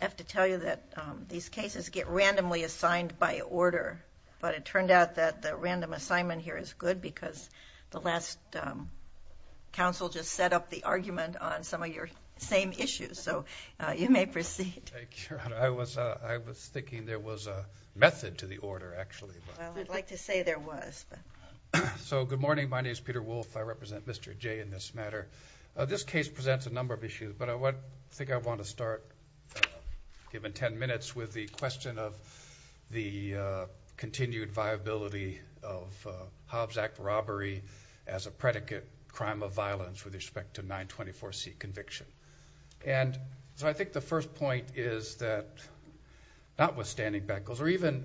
I have to tell you that these cases get randomly assigned by order, but it turned out that the random assignment here is good because the last council just set up the argument on some of your same issues, so you may proceed. Thank you, Your Honor. I was thinking there was a method to the order, actually. Well, I'd like to say there was. So good morning. My name is Peter Wolfe. I represent Mr. Jay in this matter. This case presents a number of issues, but I think I want to start, given 10 minutes, with the question of the continued viability of Hobbs Act robbery as a predicate crime of violence with respect to 924C conviction. And so I think the first point is that notwithstanding Beckles, or even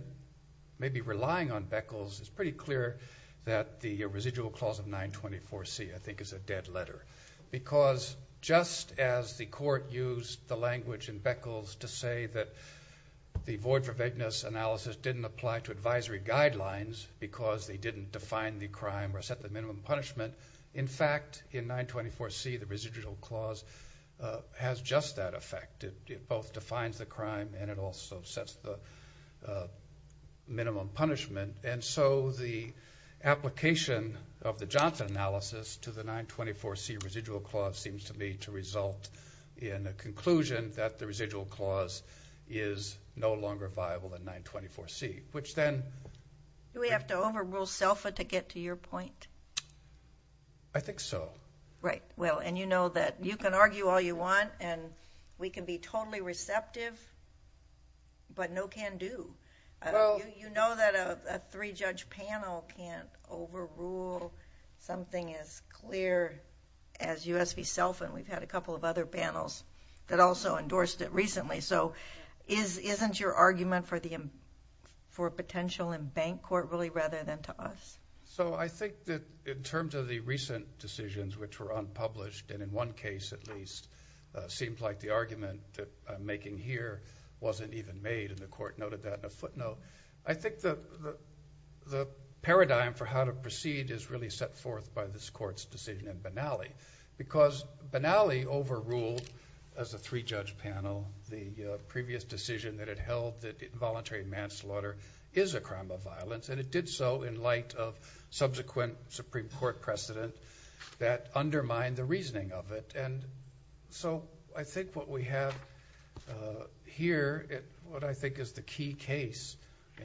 maybe relying on Beckles, it's pretty clear that the residual clause of 924C, I think, is a dead letter. Because just as the court used the language in Beckles to say that the void for vagueness analysis didn't apply to advisory guidelines because they didn't define the crime or set the minimum punishment, in fact, in 924C, the residual clause has just that effect. It both defines the crime and it also sets the minimum punishment. And so the application of the Johnson analysis to the 924C residual clause seems to me to result in a conclusion that the residual clause is no longer viable in 924C, which then... Do we have to overrule SELFA to get to your point? I think so. Right. Well, and you know that you can argue all you want and we can be totally receptive, but no can do. You know that a three-judge panel can't overrule something as clear as U.S. v. SELFA, and we've had a couple of other panels that also endorsed it recently. So isn't your argument for potential in bank court really rather than to us? So I think that in terms of the recent decisions which were unpublished, and in one case at least seemed like the argument that I'm making here wasn't even made, and the court noted that in a footnote, I think the paradigm for how to proceed is really set forth by this court's decision in Benally. Because Benally overruled, as a three-judge panel, the previous decision that it held that involuntary manslaughter is a crime of violence, and it did so in light of subsequent Supreme Court precedent that undermined the reasoning of it. And so I think what we have here, what I think is the key case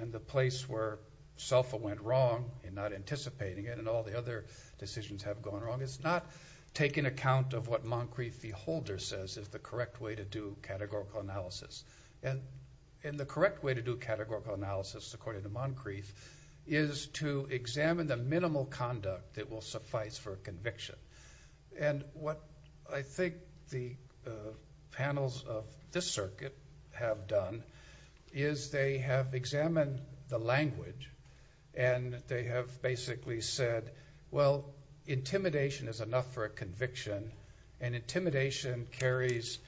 and the place where SELFA went wrong in not anticipating it, and all the other decisions have gone wrong, is not taking account of what Moncrief v. Holder says is the correct way to do categorical analysis. And the correct way to do categorical analysis, according to Moncrief, is to examine the minimal conduct that will suffice for a conviction. And what I think the panels of this circuit have done is they have examined the language, and they have basically said, well, intimidation is enough for a conviction, and intimidation carries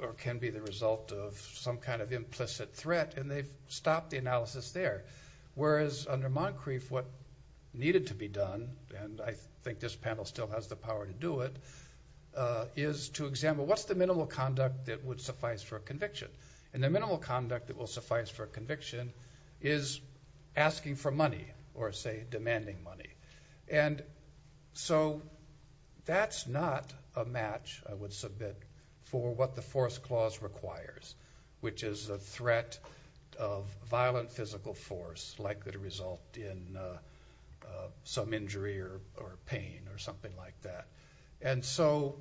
or can be the result of some kind of implicit threat, and they've stopped the analysis there. Whereas under Moncrief, what needed to be done, and I think this panel still has the power to do it, is to examine what's the minimal conduct that would suffice for a conviction. And the minimal conduct that will suffice for a conviction is asking for money, or say, demanding money. And so that's not a match, I would submit, for what the force clause requires, which is a threat of violent physical force likely to result in some injury or pain or something like that. And so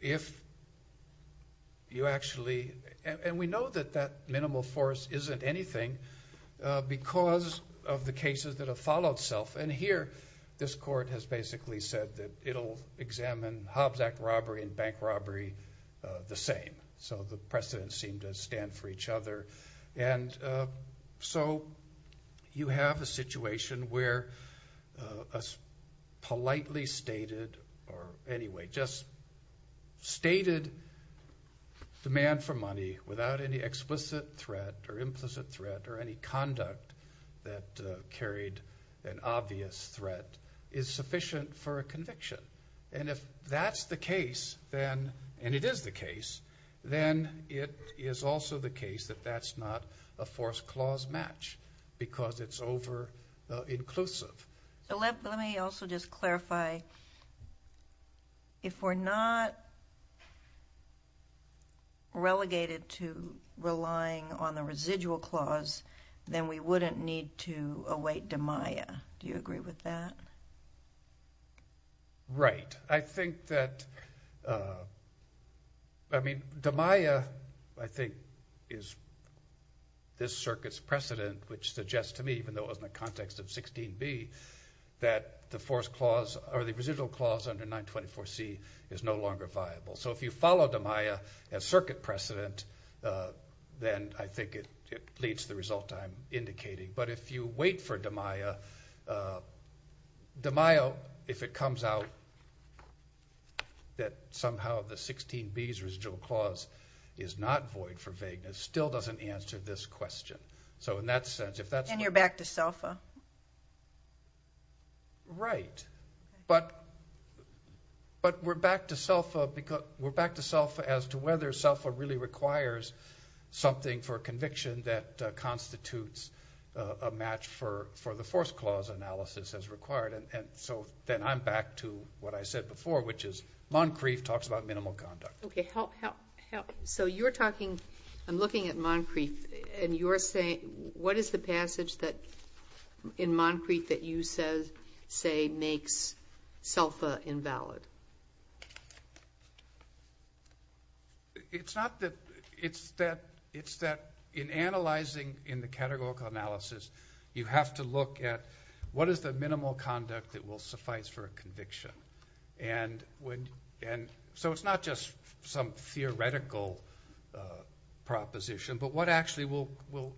if you actually, and we know that that minimal force isn't anything because of the law, but basically said that it'll examine Hobbs Act robbery and bank robbery the same. So the precedents seem to stand for each other. And so you have a situation where a politely stated, or anyway, just stated demand for money without any explicit threat or implicit threat or any conduct that carried an obvious threat is sufficient for a conviction. And if that's the case, then, and it is the case, then it is also the case that that's not a force clause match, because it's over-inclusive. So let me also just clarify, if we're not relegated to relying on the residual clause then we wouldn't need to await DMIA. Do you agree with that? Right. I think that, I mean, DMIA, I think, is this circuit's precedent, which suggests to me, even though it was in the context of 16B, that the force clause, or the residual clause under 924C is no longer viable. So if you follow DMIA as circuit precedent, then I think it leads to the result I'm indicating. But if you wait for DMIA, DMIA, if it comes out that somehow the 16B's residual clause is not void for vagueness, still doesn't answer this question. So in that sense, if that's... And you're back to SELFA. Right. But we're back to SELFA because, we're back to SELFA as to whether SELFA really requires something for conviction that constitutes a match for the force clause analysis as required. And so then I'm back to what I said before, which is Moncrief talks about minimal conduct. Okay. So you're talking, I'm looking at Moncrief, and you're saying, what is the passage in Moncrief that you say makes SELFA invalid? It's not that, it's that, it's that in analyzing in the categorical analysis, you have to look at what is the minimal conduct that will suffice for a conviction. And when, and so it's not just some theoretical proposition, but what actually will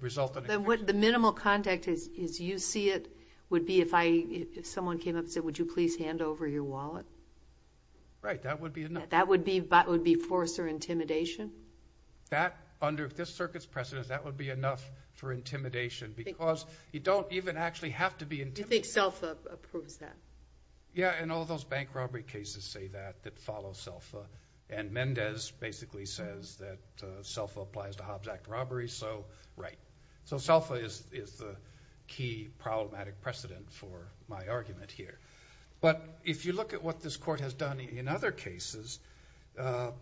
result in a conviction. Then what the minimal conduct is, is you see it would be if I, if someone came up and said, would you please hand over your wallet? Right. That would be enough. That would be, that would be force or intimidation? That under, if this circuit's precedent, that would be enough for intimidation because you don't even actually have to be intimidating. Do you think SELFA approves that? Yeah. And all those bank robbery cases say that, that follow SELFA. And Mendez basically says that SELFA applies to Hobbs Act robberies. So, right. So SELFA is the key problematic precedent for my argument here. But if you look at what this court has done in other cases or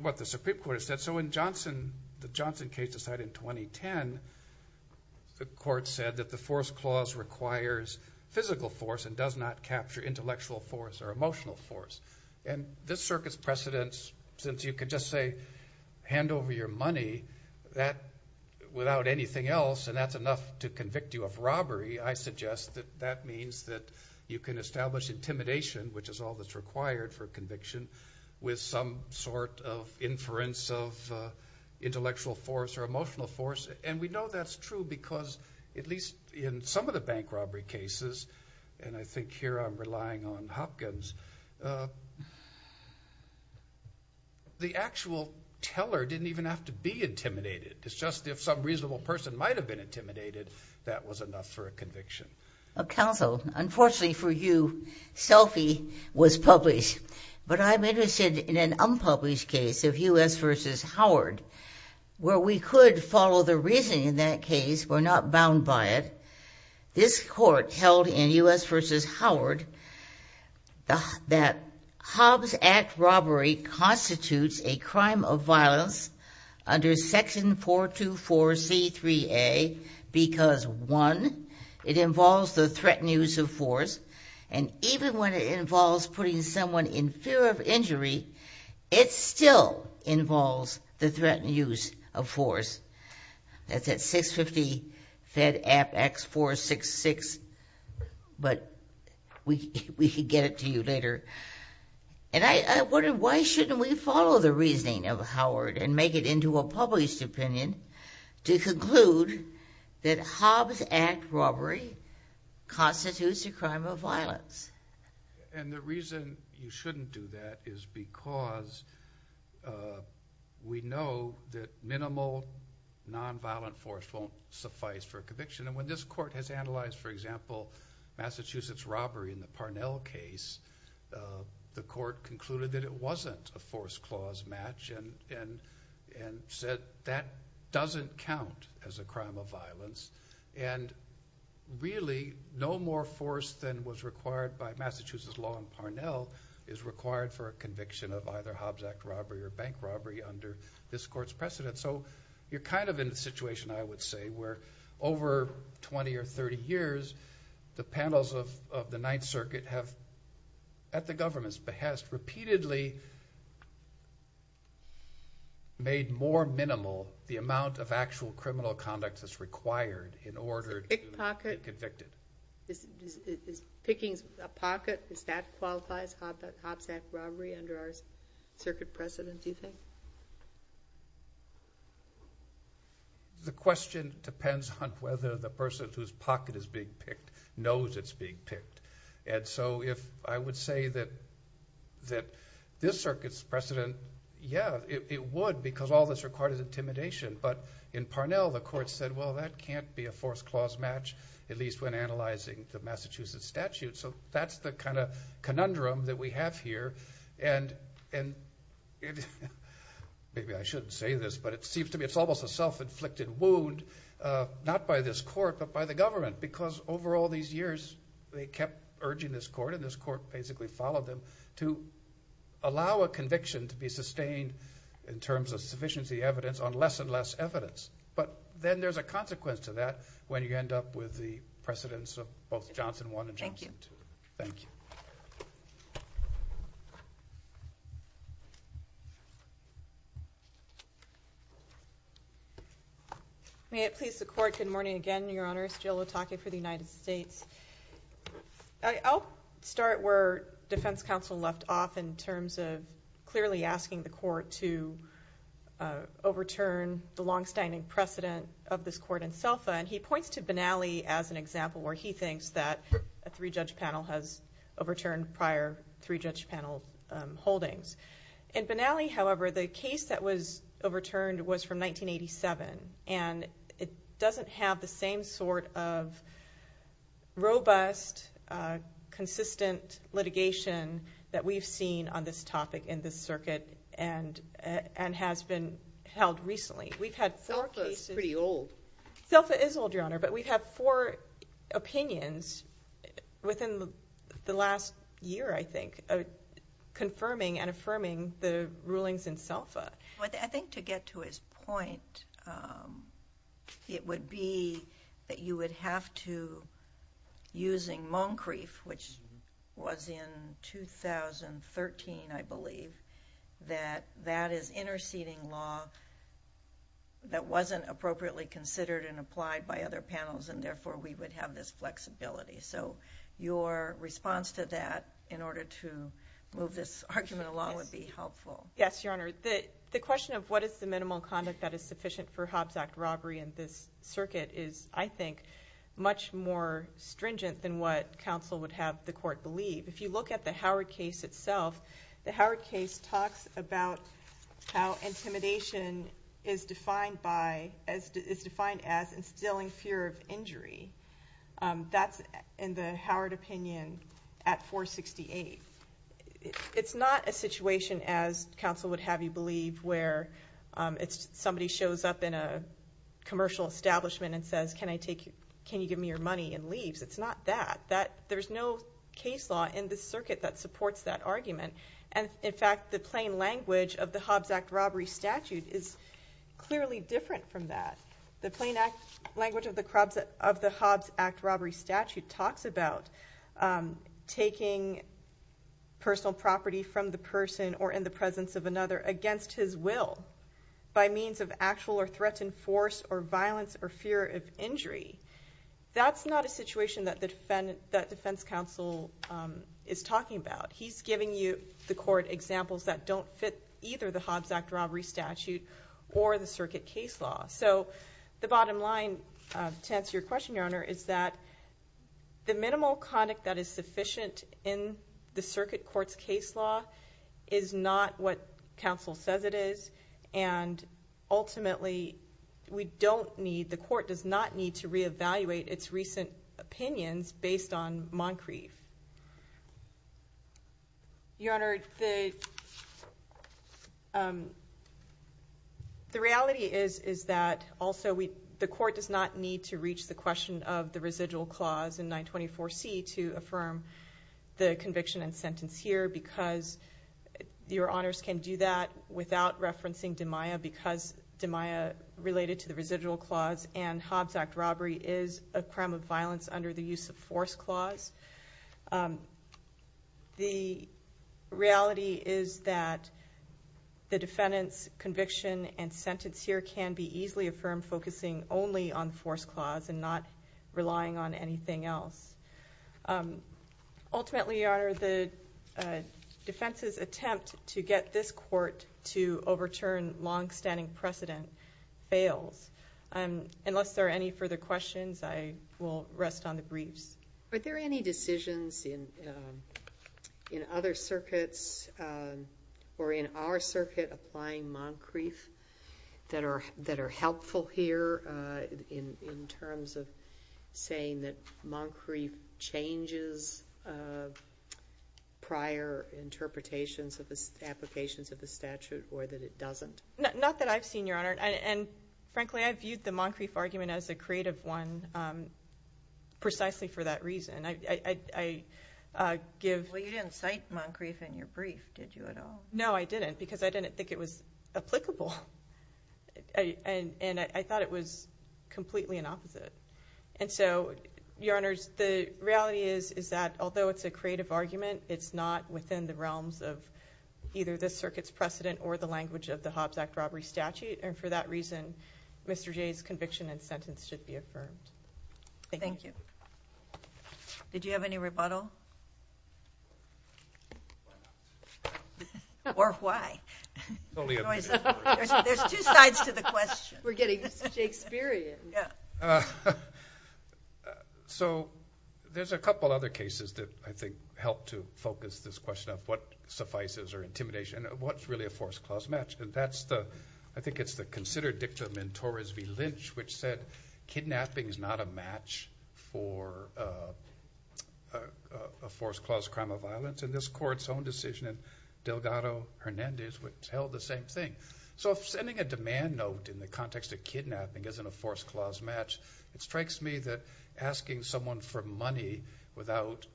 what the Supreme Court has said, so in Johnson, the Johnson case decided in 2010, the court said that the force clause requires physical force and does not capture intellectual force or emotional force. And this circuit's precedence, since you could just say, hand over your money, that without anything else, and that's enough to convict you of robbery, I suggest that that means that you can establish intimidation, which is all that's required for conviction, with some sort of inference of intellectual force or emotional force. And we know that's true because, at least in some of the bank robbery cases, and I think here I'm relying on Hopkins, the actual teller didn't even have to be intimidated. It's just if some reasonable person might have been intimidated, that was enough for a conviction. Counsel, unfortunately for you, SELFA was published. But I'm interested in an unpublished case of U.S. v. Howard, where we could follow the reasoning in that case, we're not bound by it. This court held in U.S. v. Howard that Hobbs Act robbery constitutes a crime of violence under Section 424C3A because, one, it involves the threatened use of force, and even when it involves putting someone in fear of injury, it still involves the threatened use of force. That's at 650-FED-APP-X-466, but we could get it to you later. And I wonder, why shouldn't we follow the reasoning of Howard and make it into a published opinion to conclude that Hobbs Act robbery constitutes a crime of violence? And the reason you shouldn't do that is because we know that minimal nonviolent force won't suffice for a conviction. And when this court has analyzed, for example, Massachusetts robbery in the Parnell case, the court concluded that it wasn't a force clause match and said that doesn't count as a crime of violence. And really, no more force than was required by Massachusetts law in Parnell is required for a conviction of either Hobbs Act robbery or bank robbery under this court's precedent. So you're kind of in a situation, I would say, where over 20 or 30 years, the panels of the Ninth Circuit have, at the government's behest, repeatedly made more minimal the amount of actual criminal conduct that's required in order to be convicted. Is picking a pocket, does that qualify as Hobbs Act robbery under our circuit precedent, do you think? The question depends on whether the person whose pocket is being picked knows it's being picked. And so if I would say that this circuit's precedent, yeah, it would because all this required is intimidation. But in Parnell, the court said, well, that can't be a force clause match, at least when analyzing the Massachusetts statute. So that's the kind of conundrum that we have here. And maybe I shouldn't say this, but it seems to me it's almost a self-inflicted wound, not by this court, but by the government. Because over all these years, they kept urging this court, and this court basically followed them, to allow a conviction to be sustained in terms of sufficiency evidence on less and less evidence. But then there's a consequence to that when you end up with the precedents of both Johnson 1 and Johnson 2. Thank you. May it please the court, good morning again, Your Honors. Jill Otake for the United States. I'll start where Defense Counsel left off in terms of clearly asking the court to overturn the long-standing precedent of this court in SELFA. And he points to Benally as an example where he thinks that a three-judge panel has overturned prior three-judge panel holdings. In Benally, however, the case that was overturned was from 1987. And it doesn't have the same sort of robust, consistent litigation that we've seen on this topic in this circuit, and has been held recently. We've had four cases. SELFA is pretty old. SELFA is old, Your Honor, but we've had four opinions within the last year, I think, confirming and affirming the rulings in SELFA. I think to get to his point, it would be that you would have to, using Moncrieff, which was in 2013, I believe, that that is interceding law that wasn't appropriately considered and applied by other panels, and therefore we would have this flexibility. So your response to that, in order to move this argument along, would be helpful. Yes, Your Honor. The question of what is the minimal conduct that is sufficient for Hobbs Act robbery in this circuit is, I think, much more stringent than what counsel would have the court believe. If you look at the Howard case itself, the Howard case talks about how intimidation is defined as instilling fear of injury. That's, in the Howard opinion, at 468. It's not a situation, as counsel would have you believe, where somebody shows up in a commercial establishment and says, can you give me your money, and leaves. It's not that. There's no case law in this circuit that supports that argument. In fact, the plain language of the Hobbs Act robbery statute is clearly different from that. The plain language of the Hobbs Act robbery statute talks about taking personal property from the person, or in the presence of another, against his will, by means of actual or threatened force or violence or fear of injury. That's not a situation that defense counsel is talking about. He's giving you, the court, examples that don't fit either the Hobbs Act robbery statute or the circuit case law. The bottom line, to answer your question, Your Honor, is that the minimal conduct that is sufficient in the circuit court's case law is not what counsel says it is, and ultimately, we don't need, the court does not need to reevaluate its recent opinions based on Moncrief. Your Honor, the reality is that also, the court does not need to reach the question of the residual clause in 924C to affirm the conviction and sentence here, because Your Honor, the residual clause in the Hobbs Act robbery is a crime of violence under the use of force clause. The reality is that the defendant's conviction and sentence here can be easily affirmed focusing only on force clause and not relying on anything else. Ultimately, Your Honor, the defense's attempt to get this court to overturn long-standing precedent fails. Unless there are any further questions, I will rest on the briefs. Are there any decisions in other circuits or in our circuit applying Moncrief that are helpful here in terms of saying that Moncrief changes prior interpretations of the statute or that it doesn't? Not that I've seen, Your Honor, and frankly, I viewed the Moncrief argument as a creative one precisely for that reason. I give... Well, you didn't cite Moncrief in your brief, did you at all? No, I didn't, because I didn't think it was applicable, and I thought it was completely an opposite. And so, Your Honors, the reality is that although it's a creative argument, it's not within the realms of either the circuit's precedent or the language of the Hobbs Act Robbery Statute, and for that reason, Mr. Jay's conviction and sentence should be affirmed. Did you have any rebuttal? Why not? Or why? There's two sides to the question. We're getting Shakespearean. So, there's a couple other cases that I think help to focus this question of what suffices or intimidation, and what's really a forced clause match, and that's the... I think it's the considered dictum in Torres v. Lynch, which said kidnapping is not a match for a forced clause crime of violence, and this Court's own decision in Delgado Hernandez would tell the same thing. So if sending a demand note in the context of kidnapping isn't a forced clause match, it strikes me that asking someone for money without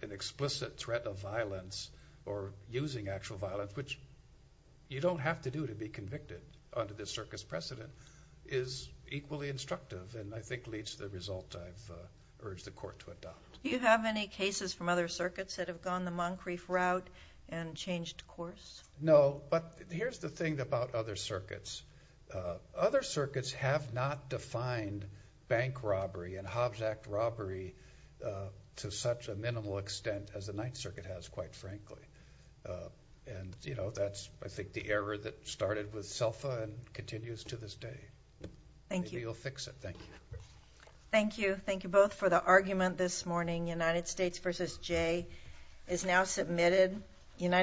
an explicit threat of violence or using actual violence, which you don't have to do to be convicted under this circuit's precedent, is equally instructive, and I think leads to the result I've urged the Court to adopt. Do you have any cases from other circuits that have gone the Moncrief route and changed course? No, but here's the thing about other circuits. Other circuits have not defined bank robbery and Hobbs Act robbery to such a minimal extent as the Ninth Circuit has, quite frankly. And, you know, that's, I think, the error that started with SELFA and continues to this day. Thank you. Maybe you'll fix it. Thank you. Thank you. Thank you both for the argument this morning. United States v. Jay is now submitted on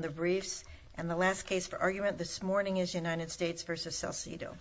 the briefs. And the last case for argument this morning is United States v. Salcido.